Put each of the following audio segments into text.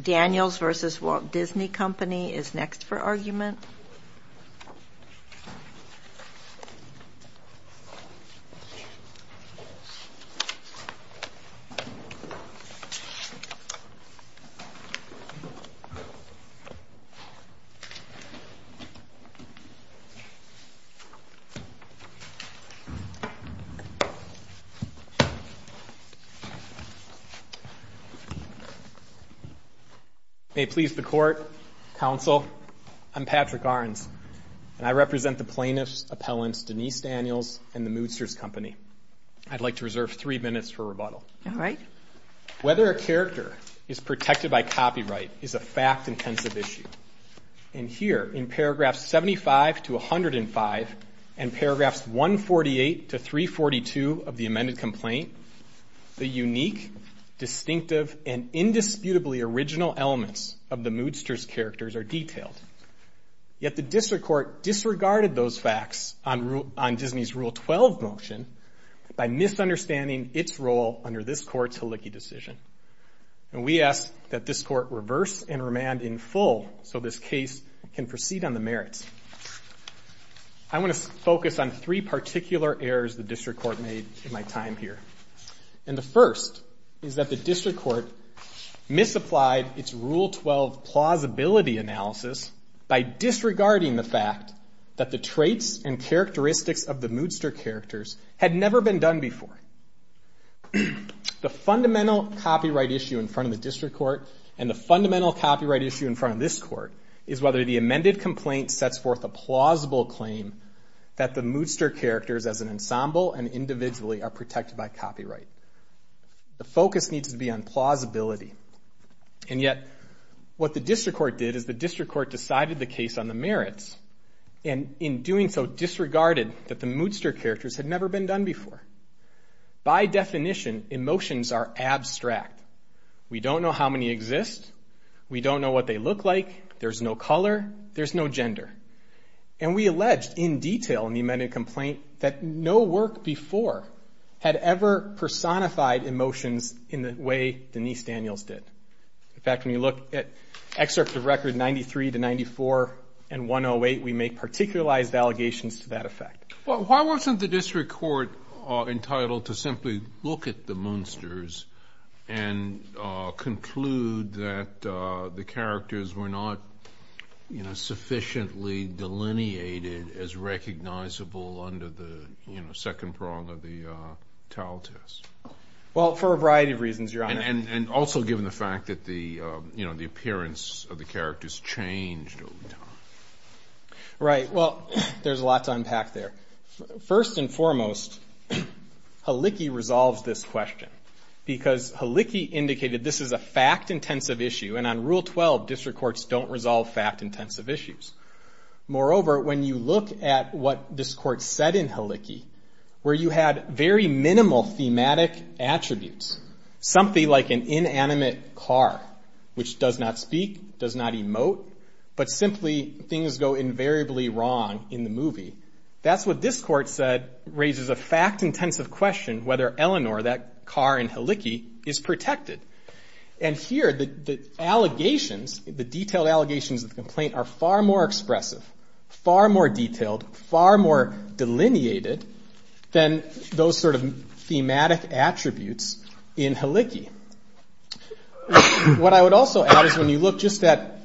Daniels v. Walt Disney Company is next for argument. May it please the Court, Counsel, I'm Patrick Ahrens, and I represent the plaintiffs, appellants, Denise Daniels, and the Moodsters Company. I'd like to reserve three minutes for rebuttal. Whether a character is protected by copyright is a fact-intensive issue. And here, in paragraphs 75 to 105, and paragraphs 148 to 342 of the amended complaint, the unique, distinctive, and indisputably original elements of the Moodsters characters are detailed. Yet the District Court disregarded those facts on Disney's Rule 12 motion by misunderstanding its role under this Court's Hlicky decision. And we ask that this Court reverse and remand in full so this case can proceed on the merits. I want to focus on three particular errors the District Court made in my time here. And the first is that the District Court misapplied its Rule 12 plausibility analysis by disregarding the fact that the traits and characteristics of the Moodster characters had never been done before. The fundamental copyright issue in front of the District Court and the fundamental copyright issue in front of this Court is whether the amended complaint sets forth a plausible claim that the Moodster characters as an ensemble and individually are protected by copyright. The focus needs to be on plausibility. And yet, what the District Court did is the District Court decided the case on the merits and in doing so disregarded that the Moodster characters had never been done before. By definition, emotions are abstract. We don't know how many exist. We don't know what they look like. There's no color. There's no gender. And we alleged in detail in the amended complaint that no work before had ever personified emotions in the way Denise Daniels did. In fact, when you look at excerpts of record 93 to 94 and 108, we make particularized allegations to that effect. Why wasn't the District Court entitled to simply look at the Moodsters and conclude that the characters were not sufficiently delineated as recognizable under the second prong of the TAL test? Well, for a variety of reasons, Your Honor. And also given the fact that the appearance of the characters changed over time. Right. Well, there's a lot to unpack there. First and foremost, Halicki resolves this question because Halicki indicated this is a fact-intensive issue, and on Rule 12, District Courts don't resolve fact-intensive issues. Moreover, when you look at what this Court said in Halicki, where you had very minimal thematic attributes, something like an inanimate car, which does not speak, does not emote, but simply things go invariably wrong in the movie, that's what this Court said raises a fact-intensive question whether Eleanor, that car in Halicki, is protected. And here, the allegations, the detailed allegations of the complaint are far more expressive, far more detailed, far more delineated than those sort of thematic attributes in Halicki. What I would also add is when you look just at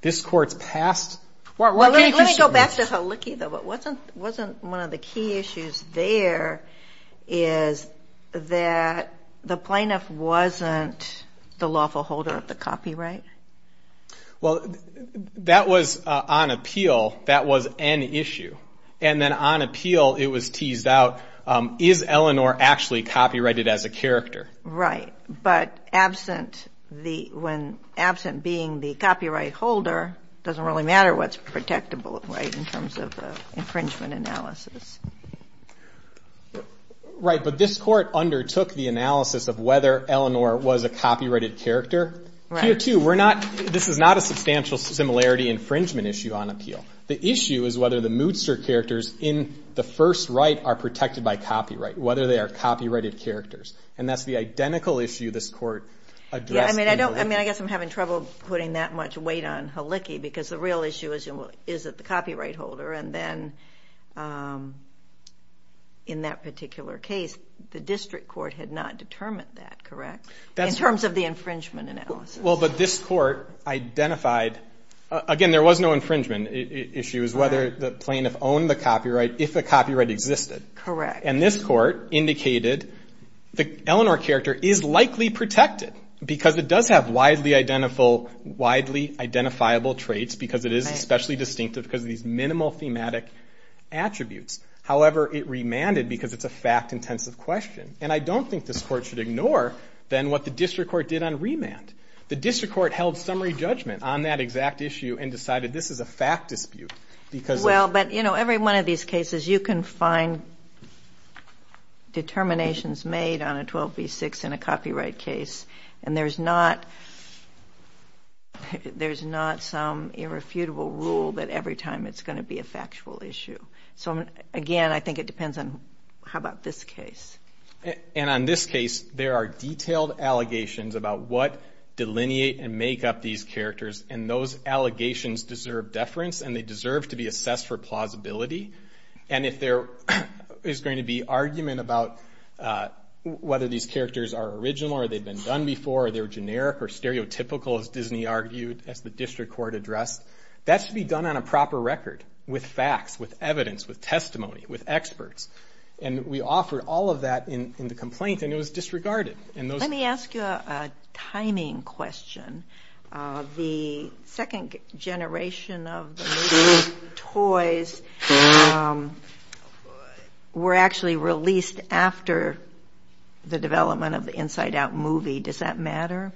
this Court's past. Let me go back to Halicki, though. Wasn't one of the key issues there is that the plaintiff wasn't the lawful holder of the copyright? Well, that was on appeal. That was an issue. And then on appeal, it was teased out, is Eleanor actually copyrighted as a character? Right. But absent being the copyright holder, it doesn't really matter what's protectable in terms of the infringement analysis. Right. But this Court undertook the analysis of whether Eleanor was a copyrighted character. Here, too, this is not a substantial similarity infringement issue on appeal. The issue is whether the moodster characters in the first right are protected by copyright, whether they are copyrighted characters. And that's the identical issue this Court addressed in Halicki. Yeah, I mean, I guess I'm having trouble putting that much weight on Halicki because the real issue is, is it the copyright holder? And then in that particular case, the district court had not determined that, correct, in terms of the infringement analysis. Well, but this Court identified, again, there was no infringement issue. It was whether the plaintiff owned the copyright, if the copyright existed. Correct. And this Court indicated the Eleanor character is likely protected because it does have widely identifiable traits because it is especially distinctive because of these minimal thematic attributes. However, it remanded because it's a fact-intensive question. And I don't think this Court should ignore, then, what the district court did on remand. The district court held summary judgment on that exact issue and decided this is a fact dispute because it's... Well, but, you know, every one of these cases, you can find determinations made on a 12b-6 in a copyright case, and there's not some irrefutable rule that every time it's going to be a factual issue. So, again, I think it depends on how about this case. And on this case, there are detailed allegations about what delineate and make up these characters, and those allegations deserve deference and they deserve to be assessed for plausibility. And if there is going to be argument about whether these characters are original or they've been done before or they're generic or stereotypical, as Disney argued, as the district court addressed, that should be done on a proper record with facts, with evidence, with testimony, with experts. And we offered all of that in the complaint, and it was disregarded. Let me ask you a timing question. The second generation of the movie toys were actually released after the development of the Inside Out movie. Does that matter?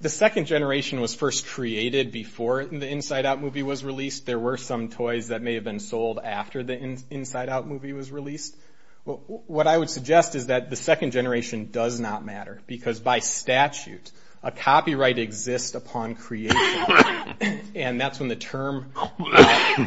The second generation was first created before the Inside Out movie was released. There were some toys that may have been sold after the Inside Out movie was released. What I would suggest is that the second generation does not matter because by statute a copyright exists upon creation, and that's when the term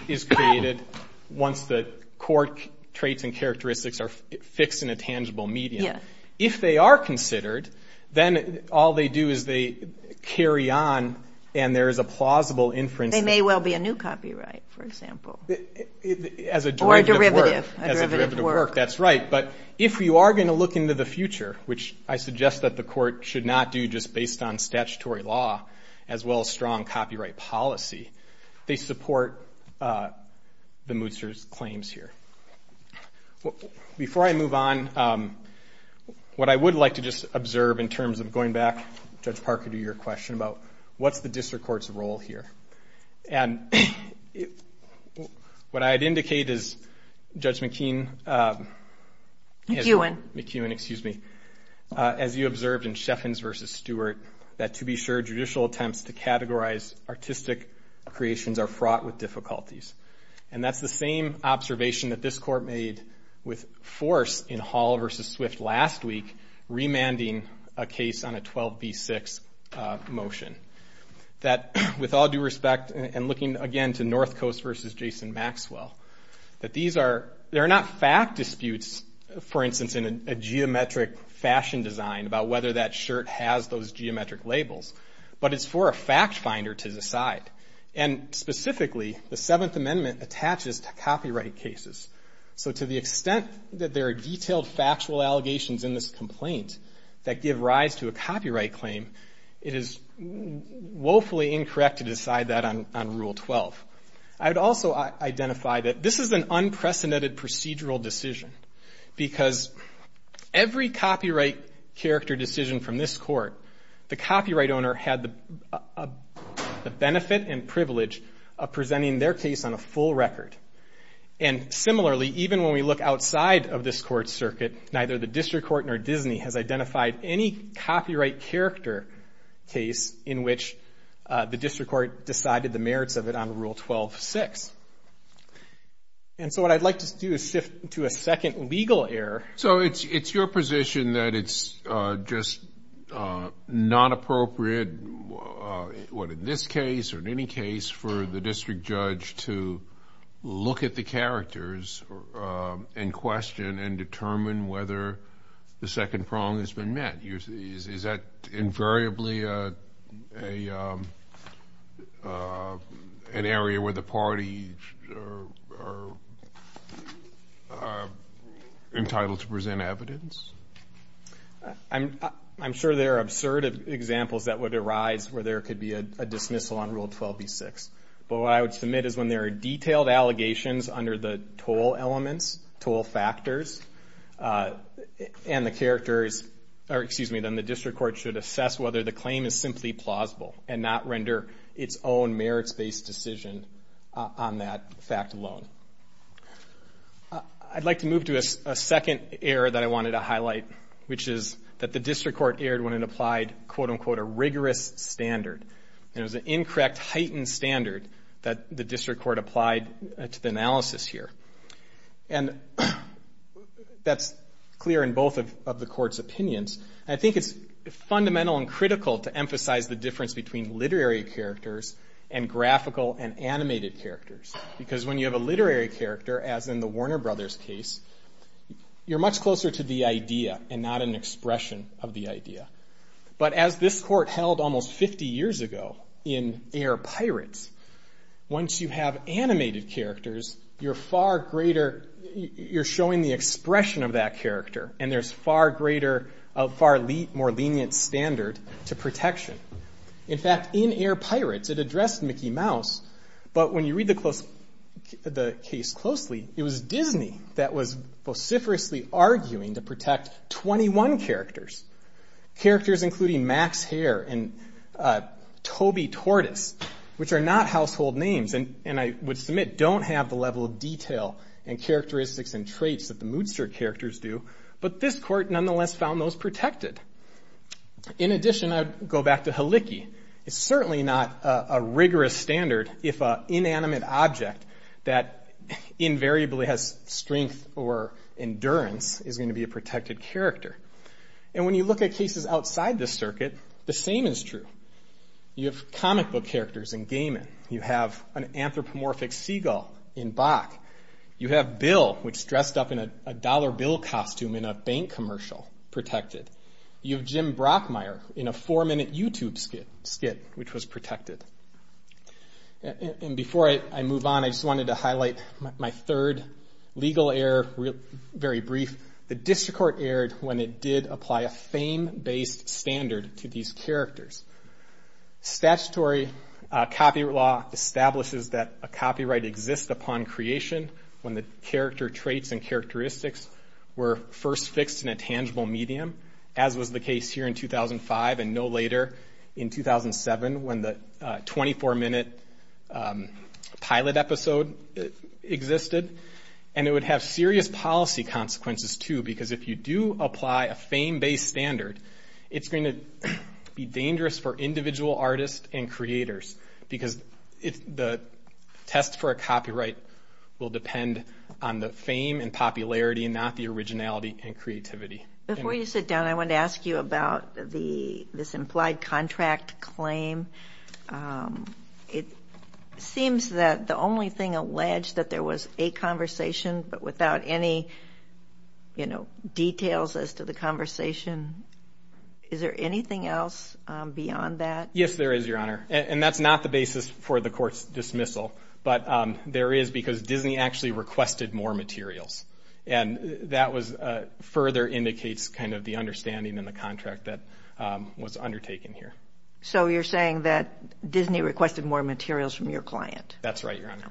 is created once the court traits and characteristics are fixed in a tangible medium. If they are considered, then all they do is they carry on and there is a plausible inference. They may well be a new copyright, for example. Or a derivative. As a derivative of work, that's right. But if you are going to look into the future, which I suggest that the court should not do just based on statutory law as well as strong copyright policy, they support the Mootser's claims here. Before I move on, what I would like to just observe in terms of going back, Judge Parker, to your question about what's the district court's role here. What I'd indicate is Judge McEwen, as you observed in Sheffens v. Stewart, that to be sure judicial attempts to categorize artistic creations are fraught with difficulties. And that's the same observation that this court made with force in Hall v. Swift last week, remanding a case on a 12b6 motion. That with all due respect, and looking again to North Coast v. Jason Maxwell, that these are not fact disputes, for instance, in a geometric fashion design about whether that shirt has those geometric labels, but it's for a fact finder to decide. And specifically, the Seventh Amendment attaches to copyright cases. So to the extent that there are detailed factual allegations in this complaint that give rise to a copyright claim, it is woefully incorrect to decide that on Rule 12. I would also identify that this is an unprecedented procedural decision, because every copyright character decision from this court, the copyright owner had the benefit and privilege of presenting their case on a full record. And similarly, even when we look outside of this court circuit, neither the district court nor Disney has identified any copyright character case in which the district court decided the merits of it on Rule 12.6. And so what I'd like to do is shift to a second legal error. So it's your position that it's just not appropriate, what, in this case or in any case, for the district judge to look at the characters and question and determine whether the second prong has been met. Is that invariably an area where the parties are entitled to present evidence? I'm sure there are absurd examples that would arise where there could be a dismissal on Rule 12.6. But what I would submit is when there are detailed allegations under the toll elements, toll factors, and the characters, or excuse me, then the district court should assess whether the claim is simply plausible and not render its own merits-based decision on that fact alone. I'd like to move to a second error that I wanted to highlight, which is that the district court erred when it applied, quote-unquote, a rigorous standard. And it was an incorrect heightened standard that the district court applied to the analysis here. And that's clear in both of the court's opinions. I think it's fundamental and critical to emphasize the difference between literary characters and graphical and animated characters. Because when you have a literary character, as in the Warner Brothers case, you're much closer to the idea and not an expression of the idea. But as this court held almost 50 years ago in Air Pirates, once you have animated characters, you're far greater, you're showing the expression of that character. And there's far greater, a far more lenient standard to protection. In fact, in Air Pirates, it addressed Mickey Mouse, but when you read the case closely, it was Disney that was vociferously arguing to protect 21 characters. Characters including Max Hare and Toby Tortoise, which are not household names, and I would submit don't have the level of detail and characteristics and traits that the moodster characters do, but this court nonetheless found those protected. In addition, I would go back to Heliki. It's certainly not a rigorous standard if an inanimate object that invariably has strength or endurance is going to be a protected character. And when you look at cases outside this circuit, the same is true. You have comic book characters in Gaiman. You have an anthropomorphic seagull in Bach. You have Bill, which is dressed up in a dollar bill costume in a bank commercial, protected. You have Jim Brockmire in a four-minute YouTube skit, which was protected. And before I move on, I just wanted to highlight my third legal error, very brief. The district court erred when it did apply a fame-based standard to these characters. Statutory copyright law establishes that a copyright exists upon creation when the character traits and characteristics were first fixed in a tangible medium, as was the case here in 2005 and no later in 2007 when the 24-minute pilot episode existed. And it would have serious policy consequences too, because if you do apply a fame-based standard, it's going to be dangerous for individual artists and creators, because the test for a copyright will depend on the fame and popularity and not the originality and creativity. Before you sit down, I wanted to ask you about this implied contract claim. It seems that the only thing alleged that there was a conversation, but without any details as to the conversation. Is there anything else beyond that? Yes, there is, Your Honor, and that's not the basis for the court's dismissal, but there is because Disney actually requested more materials, and that further indicates kind of the understanding in the contract that was undertaken here. So you're saying that Disney requested more materials from your client? That's right, Your Honor.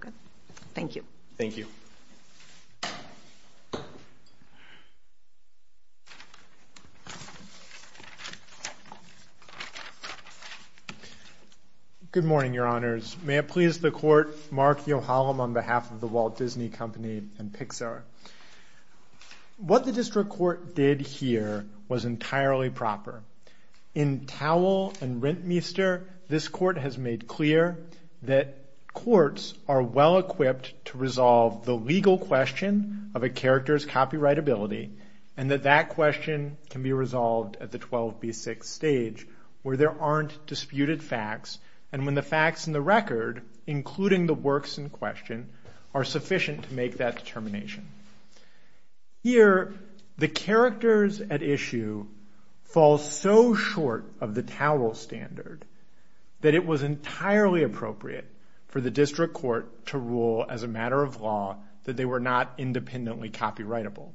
Thank you. Thank you. Good morning, Your Honors. May it please the Court, Mark Yohalam on behalf of the Walt Disney Company and Pixar. What the district court did here was entirely proper. In Towell and Rentmeester, this court has made clear that courts are well-equipped to resolve the legal question of a character's copyrightability, and that that question can be resolved at the 12B6 stage where there aren't disputed facts, and when the facts in the record, including the works in question, are sufficient to make that determination. Here, the characters at issue fall so short of the Towell standard that it was entirely appropriate for the district court to rule as a matter of law that they were not independently copyrightable.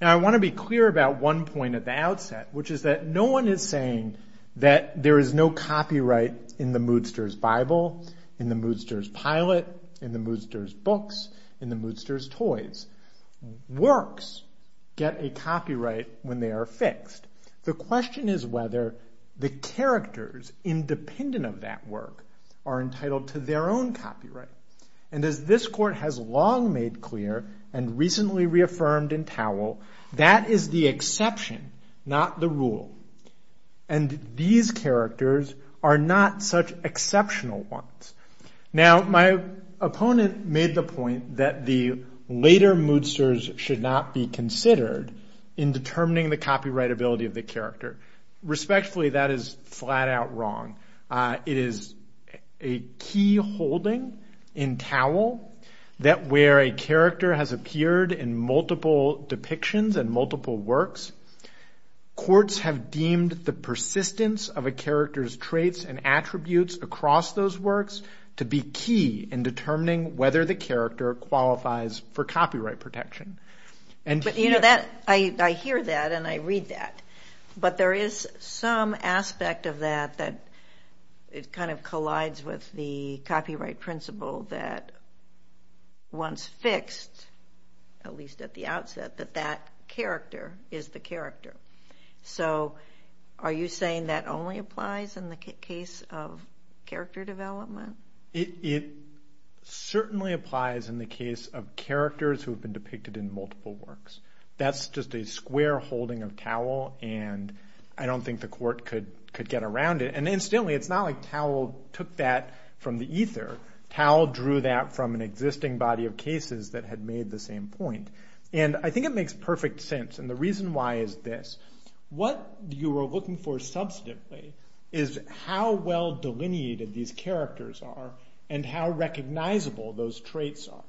Now, I want to be clear about one point at the outset, which is that no one is saying that there is no copyright in the moodster's Bible, in the moodster's pilot, in the moodster's books, in the moodster's toys. Works get a copyright when they are fixed. The question is whether the characters independent of that work are entitled to their own copyright, and as this court has long made clear and recently reaffirmed in Towell, that is the exception, not the rule, and these characters are not such exceptional ones. Now, my opponent made the point that the later moodsters should not be considered in determining the copyrightability of the character. Respectfully, that is flat-out wrong. It is a key holding in Towell that where a character has appeared in multiple depictions and multiple works, courts have deemed the persistence of a character's traits and attributes across those works to be key in determining whether the character qualifies for copyright protection. I hear that and I read that, but there is some aspect of that that kind of collides with the copyright principle that once fixed, at least at the outset, that that character is the character. So are you saying that only applies in the case of character development? It certainly applies in the case of characters who have been depicted in multiple works. That's just a square holding of Towell, and I don't think the court could get around it. And incidentally, it's not like Towell took that from the ether. Towell drew that from an existing body of cases that had made the same point. And I think it makes perfect sense, and the reason why is this. What you are looking for substantively is how well delineated these characters are and how recognizable those traits are.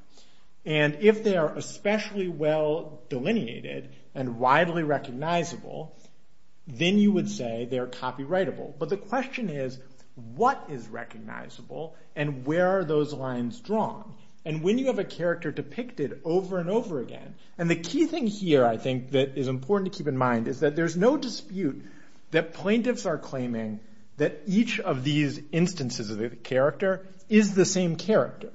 And if they are especially well delineated and widely recognizable, then you would say they're copyrightable. But the question is, what is recognizable and where are those lines drawn? And when you have a character depicted over and over again, And the key thing here I think that is important to keep in mind is that there's no dispute that plaintiffs are claiming that each of these instances of the character is the same character.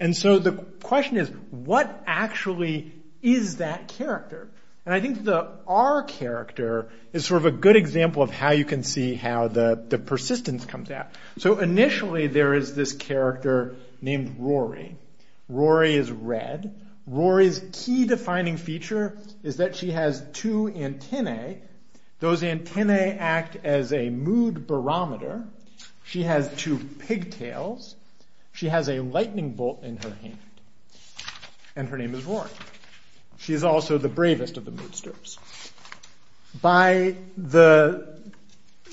And so the question is, what actually is that character? And I think the R character is sort of a good example of how you can see how the persistence comes out. So initially there is this character named Rory. Rory is red. Rory's key defining feature is that she has two antennae. Those antennae act as a mood barometer. She has two pigtails. She has a lightning bolt in her hand. And her name is Rory. She is also the bravest of the moodsters. By the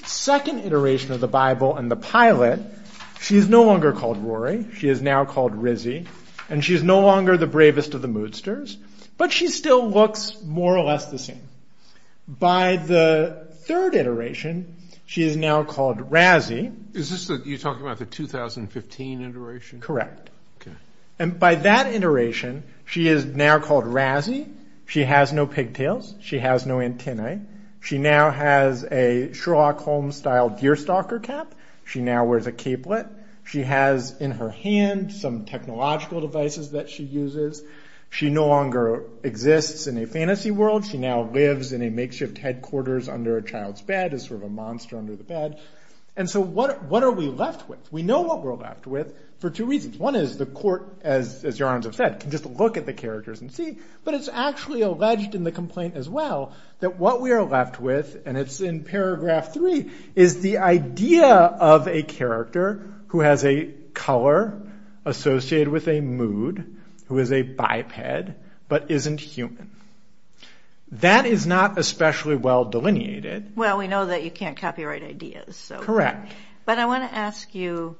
second iteration of the Bible and the pilot, she is no longer called Rory. She is now called Rizzy. And she is no longer the bravest of the moodsters. But she still looks more or less the same. By the third iteration, she is now called Razzy. Is this what you're talking about, the 2015 iteration? Correct. And by that iteration, she is now called Razzy. She has no pigtails. She has no antennae. She now has a Sherlock Holmes style deerstalker cap. She now wears a capelet. She has in her hand some technological devices that she uses. She no longer exists in a fantasy world. She now lives in a makeshift headquarters under a child's bed as sort of a monster under the bed. And so what are we left with? We know what we're left with for two reasons. One is the court, as your honors have said, can just look at the characters and see. But it's actually alleged in the complaint as well that what we are left with, and it's in paragraph three, is the idea of a character who has a color associated with a mood, who is a biped, but isn't human. That is not especially well delineated. Well, we know that you can't copyright ideas. Correct. But I want to ask you,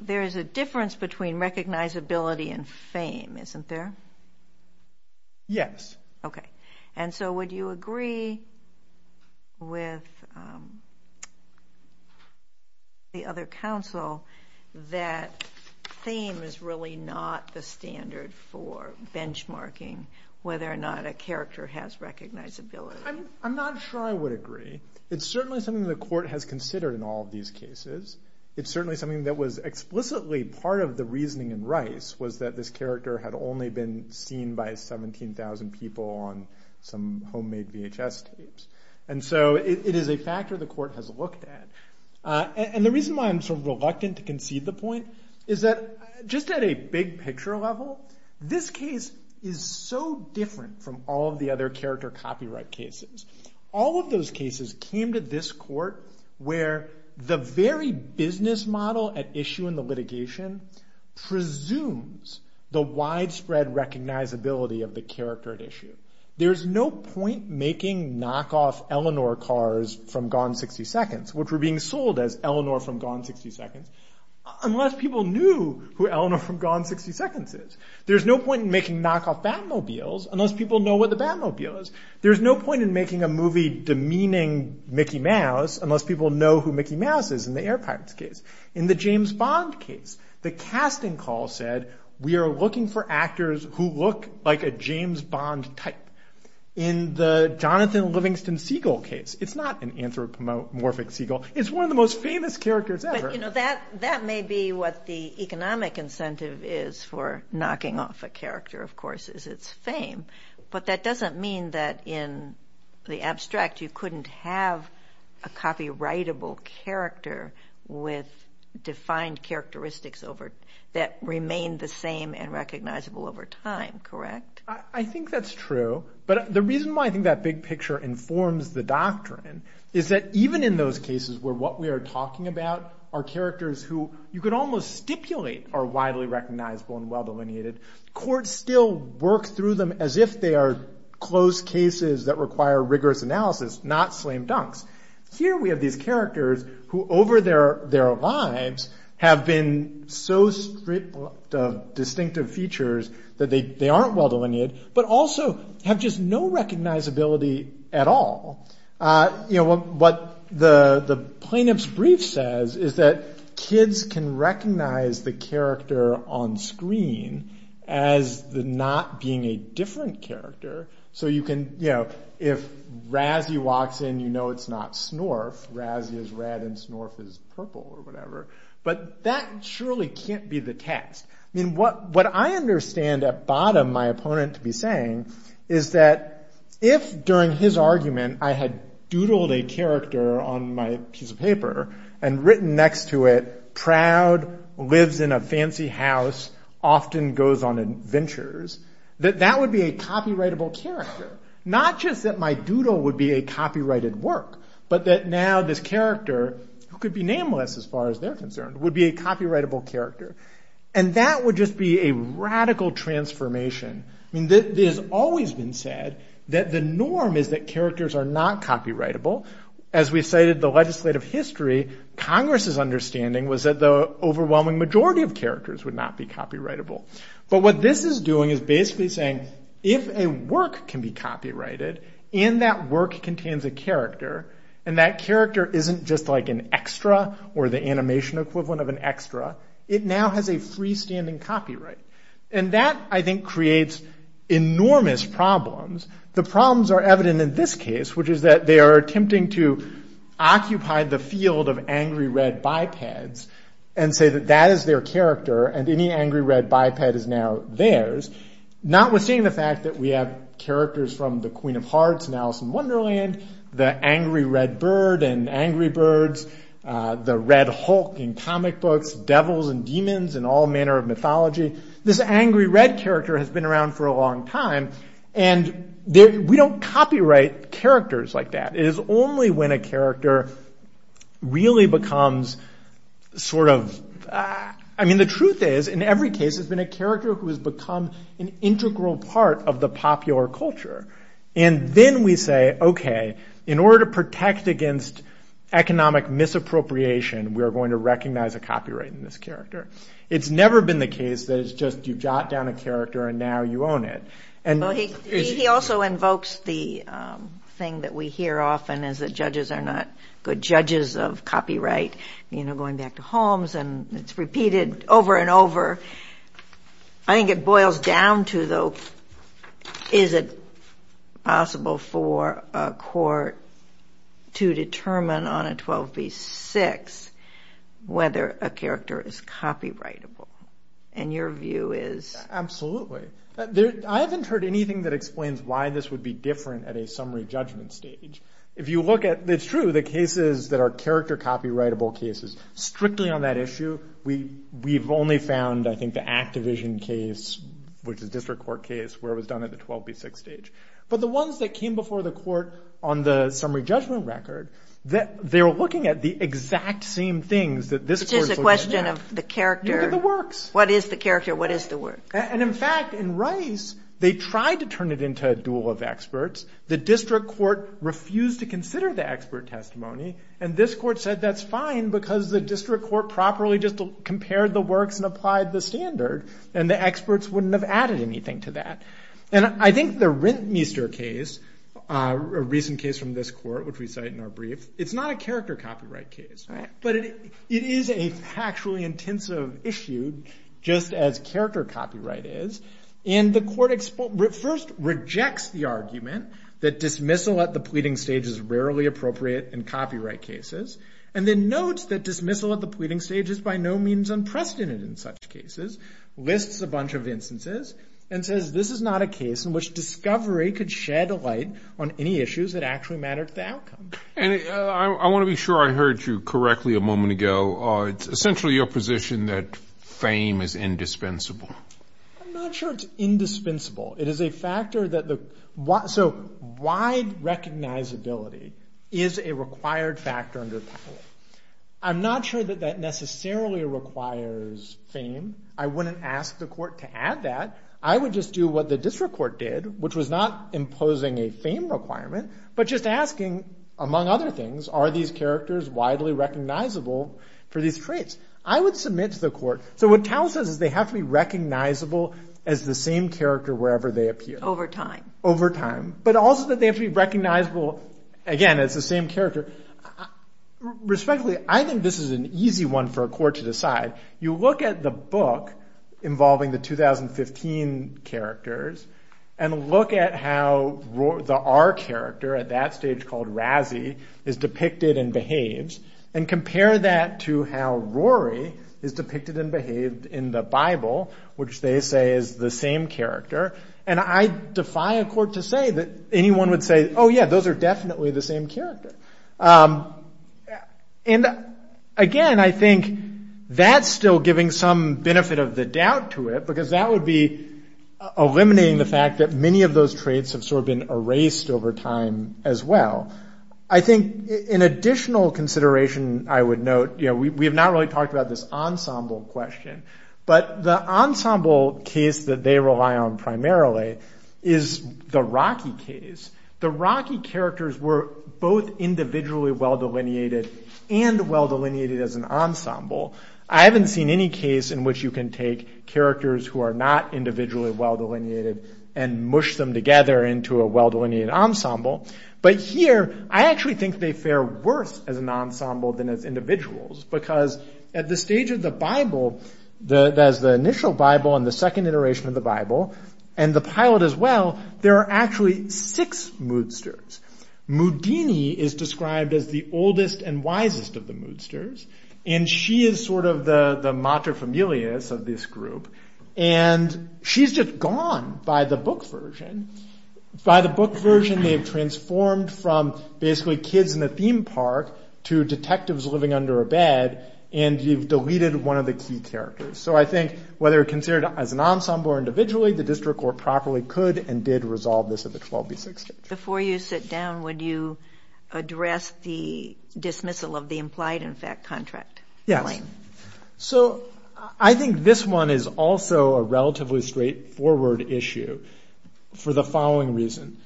there is a difference between recognizability and fame, isn't there? Yes. Okay. And so would you agree with the other counsel that fame is really not the standard for benchmarking whether or not a character has recognizability? I'm not sure I would agree. It's certainly something the court has considered in all of these cases. It's certainly something that was explicitly part of the reasoning in Rice, was that this character had only been seen by 17,000 people on some homemade VHS tapes. And so it is a factor the court has looked at. And the reason why I'm sort of reluctant to concede the point is that just at a big picture level, this case is so different from all of the other character copyright cases. All of those cases came to this court where the very business model at issue in the litigation presumes the widespread recognizability of the character at issue. There's no point making knockoff Eleanor cars from Gone 60 Seconds, which were being sold as Eleanor from Gone 60 Seconds, unless people knew who Eleanor from Gone 60 Seconds is. There's no point in making knockoff Batmobiles unless people know what the Batmobile is. There's no point in making a movie demeaning Mickey Mouse unless people know who Mickey Mouse is in the Air Pirates case. In the James Bond case, the casting call said, we are looking for actors who look like a James Bond type. In the Jonathan Livingston Siegel case, it's not an anthropomorphic Siegel. It's one of the most famous characters ever. That may be what the economic incentive is for knocking off a character, of course, is its fame. But that doesn't mean that in the abstract, you couldn't have a copyrightable character with defined characteristics that remain the same and recognizable over time, correct? I think that's true. But the reason why I think that big picture informs the doctrine is that even in those cases where what we are talking about are characters who you could almost stipulate are widely recognizable and well delineated, courts still work through them that require rigorous analysis, not slam dunks. Here we have these characters who over their lives have been so stripped of distinctive features that they aren't well delineated, but also have just no recognizability at all. What the plaintiff's brief says is that kids can recognize the character on screen as not being a different character. If Razzie walks in, you know it's not Snorf. Razzie is red and Snorf is purple or whatever. But that surely can't be the text. I mean, what I understand at bottom my opponent to be saying is that if during his argument, I had doodled a character on my piece of paper and written next to it, proud, lives in a fancy house, often goes on adventures, that that would be a copyrightable character. Not just that my doodle would be a copyrighted work, but that now this character, who could be nameless as far as they're concerned, would be a copyrightable character. And that would just be a radical transformation. I mean, it has always been said that the norm is that characters are not copyrightable. As we cited the legislative history, Congress's understanding was that the overwhelming majority of characters would not be copyrightable. But what this is doing is basically saying if a work can be copyrighted, and that work contains a character, and that character isn't just like an extra or the animation equivalent of an extra, it now has a freestanding copyright. And that, I think, creates enormous problems. The problems are evident in this case, which is that they are attempting to occupy the field of angry red bipeds and say that that is their character and any angry red biped is now theirs, notwithstanding the fact that we have the Queen of Hearts and Alice in Wonderland, the angry red bird and angry birds, the red hulk in comic books, devils and demons in all manner of mythology. This angry red character has been around for a long time. And we don't copyright characters like that. It is only when a character really becomes sort of... I mean, the truth is, in every case, it's been a character who has become an integral part of the popular culture. And then we say, okay, in order to protect against economic misappropriation, we are going to recognize a copyright in this character. It's never been the case that it's just you've jot down a character and now you own it. He also invokes the thing that we hear often is that judges are not good judges of copyright. You know, going back to Holmes, and it's repeated over and over. I think it boils down to, though, is it possible for a court to determine on a 12b-6 whether a character is copyrightable? And your view is... Absolutely. I haven't heard anything that explains why this would be different at a summary judgment stage. If you look at... It's true, the cases that are character copyrightable cases, strictly on that issue, we've only found, I think, the Activision case, which is a district court case, where it was done at the 12b-6 stage. But the ones that came before the court on the summary judgment record, they were looking at the exact same things that this court's looking at. It's just a question of the character. Look at the works. What is the character? What is the work? And in fact, in Rice, they tried to turn it into a duel of experts. The district court refused to consider the expert testimony, and this court said that's fine because the district court properly just compared the works and applied the standard, and the experts wouldn't have added anything to that. And I think the Rintmeester case, a recent case from this court, which we cite in our brief, it's not a character copyright case. But it is a factually intensive issue, just as character copyright is. And the court first rejects the argument that dismissal at the pleading stage is rarely appropriate in copyright cases, and then notes that dismissal at the pleading stage is by no means unprecedented in such cases. Lists a bunch of instances, and says this is not a case in which discovery could shed a light on any issues that actually matter to the outcome. And I want to be sure I heard you correctly a moment ago. It's essentially your position that fame is indispensable. I'm not sure it's indispensable. It is a factor that the... So wide recognizability is a required factor under power. I'm not sure that that necessarily requires fame. I wouldn't ask the court to add that. I would just do what the district court did, which was not imposing a fame requirement, but just asking, among other things, are these characters widely recognizable for these traits? I would submit to the court... So what Tao says is they have to be recognizable as the same character wherever they appear. Over time. Over time. But also that they have to be recognizable, again, as the same character. Respectfully, I think this is an easy one for a court to decide. You look at the book involving the 2015 characters and look at how the R character at that stage, called Razzi, is depicted and behaves, and compare that to how Rory is depicted and behaved in the Bible, which they say is the same character. And I defy a court to say that anyone would say, oh yeah, those are definitely the same character. And again, I think that's still giving some benefit of the doubt to it, because that would be eliminating the fact that many of those traits have sort of been erased over time as well. I think an additional consideration I would note, we have not really talked about this ensemble question, but the ensemble case that they rely on primarily is the Rocky case. The Rocky characters were both individually well-delineated and well-delineated as an ensemble. I haven't seen any case in which you can take characters who are not individually well-delineated and mush them together into a well-delineated ensemble. But here, I actually think they fare worse as an ensemble than as individuals, because at the stage of the Bible, that is the initial Bible and the second iteration of the Bible, and the pilot as well, there are actually six moodsters. Mudini is described as the oldest and wisest of the moodsters, and she is sort of the mater familius of this group. And she's just gone by the book version. By the book version, they've transformed from basically kids in a theme park to detectives living under a bed, and you've deleted one of the key characters. So I think whether considered as an ensemble or individually, the district court properly could and did resolve this at the 12b6 stage. Before you sit down, would you address the dismissal of the implied-in-fact contract claim? Yes. So I think this one is also a relatively straightforward issue for the following reason.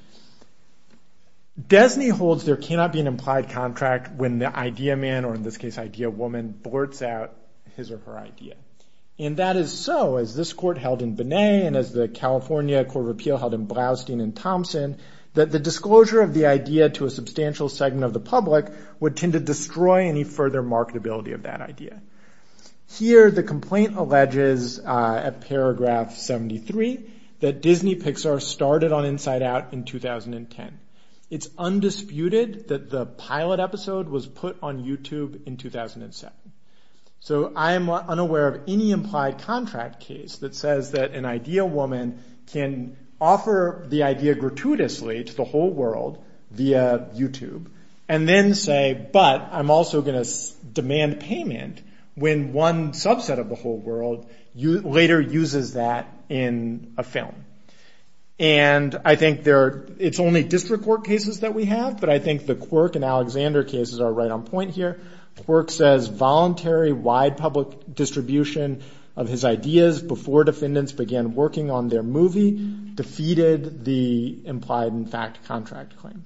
Desney holds there cannot be an implied contract when the idea man, or in this case idea woman, blurts out his or her idea. And that is so, as this court held in Binet and as the California Court of Appeal held in Blaustein and Thompson, that the disclosure of the idea to a substantial segment of the public would tend to destroy any further marketability of that idea. Here, the complaint alleges at paragraph 73 that Disney-Pixar started on Inside Out in 2010. It's undisputed that the pilot episode was put on YouTube in 2007. So I am unaware of any implied contract case that says that an idea woman can offer the idea gratuitously to the whole world via YouTube and then say, but I'm also going to demand payment when one subset of the whole world later uses that in a film. And I think it's only district court cases that we have, but I think the Quirk and Alexander cases are right on point here. Quirk says voluntary wide public distribution of his ideas before defendants began working on their movie defeated the implied in fact contract claim.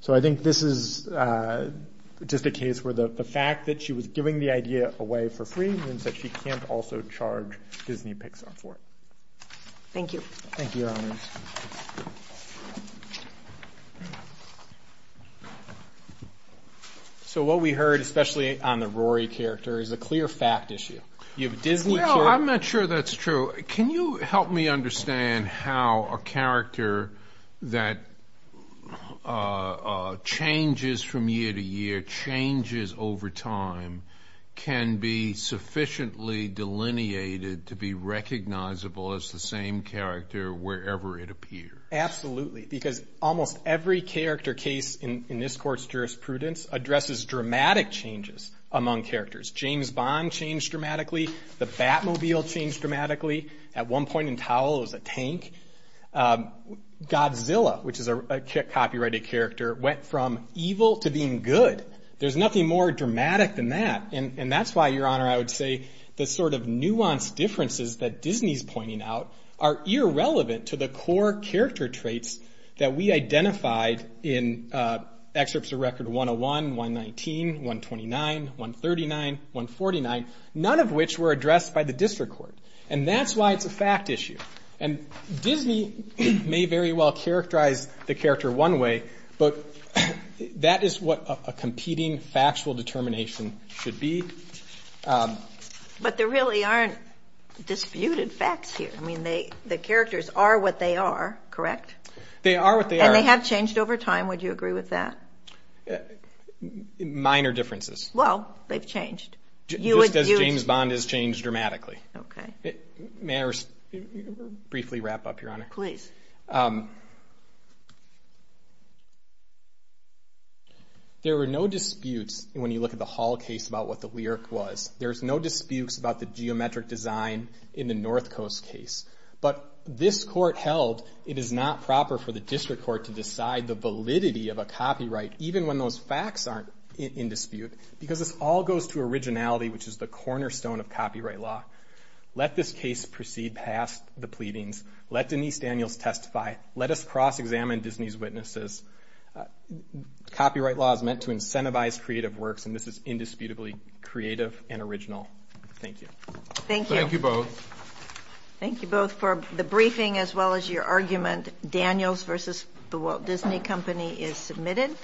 So I think this is just a case where the fact that she was giving the idea away for free means that she can't also charge Disney-Pixar for it. Thank you. Thank you, Your Honors. So what we heard, especially on the Rory character, is a clear fact issue. You have a Disney character. I'm not sure that's true. Can you help me understand how a character that changes from year to year, changes over time, can be sufficiently delineated to be recognizable as the same character wherever it appears? Absolutely, because almost every character case in this Court's jurisprudence addresses dramatic changes among characters. James Bond changed dramatically. The Batmobile changed dramatically. At one point in Towel, it was a tank. Godzilla, which is a copyrighted character, went from evil to being good. There's nothing more dramatic than that, and that's why, Your Honor, I would say the sort of nuanced differences that Disney's pointing out are irrelevant to the core character traits that we identified in excerpts of Record 101, 119, 129, 139, 149, none of which were addressed by the District Court, and that's why it's a fact issue. And Disney may very well characterize the character one way, but that is what a competing factual determination should be. But there really aren't disputed facts here. I mean, the characters are what they are, correct? They are what they are. And they have changed over time. Would you agree with that? Minor differences. Well, they've changed. Just as James Bond has changed dramatically. Okay. May I briefly wrap up, Your Honor? Please. There were no disputes when you look at the Hall case about what the lyric was. There's no disputes about the geometric design in the North Coast case. But this court held it is not proper for the District Court to decide the validity of a copyright, even when those facts aren't in dispute, because this all goes to originality, which is the cornerstone of copyright law. Let this case proceed past the pleadings. Let Denise Daniels testify. Let us cross-examine Disney's witnesses. Copyright law is meant to incentivize creative works, and this is indisputably creative and original. Thank you. Thank you. Thank you both. Thank you both for the briefing as well as your argument. Daniels v. The Walt Disney Company is submitted.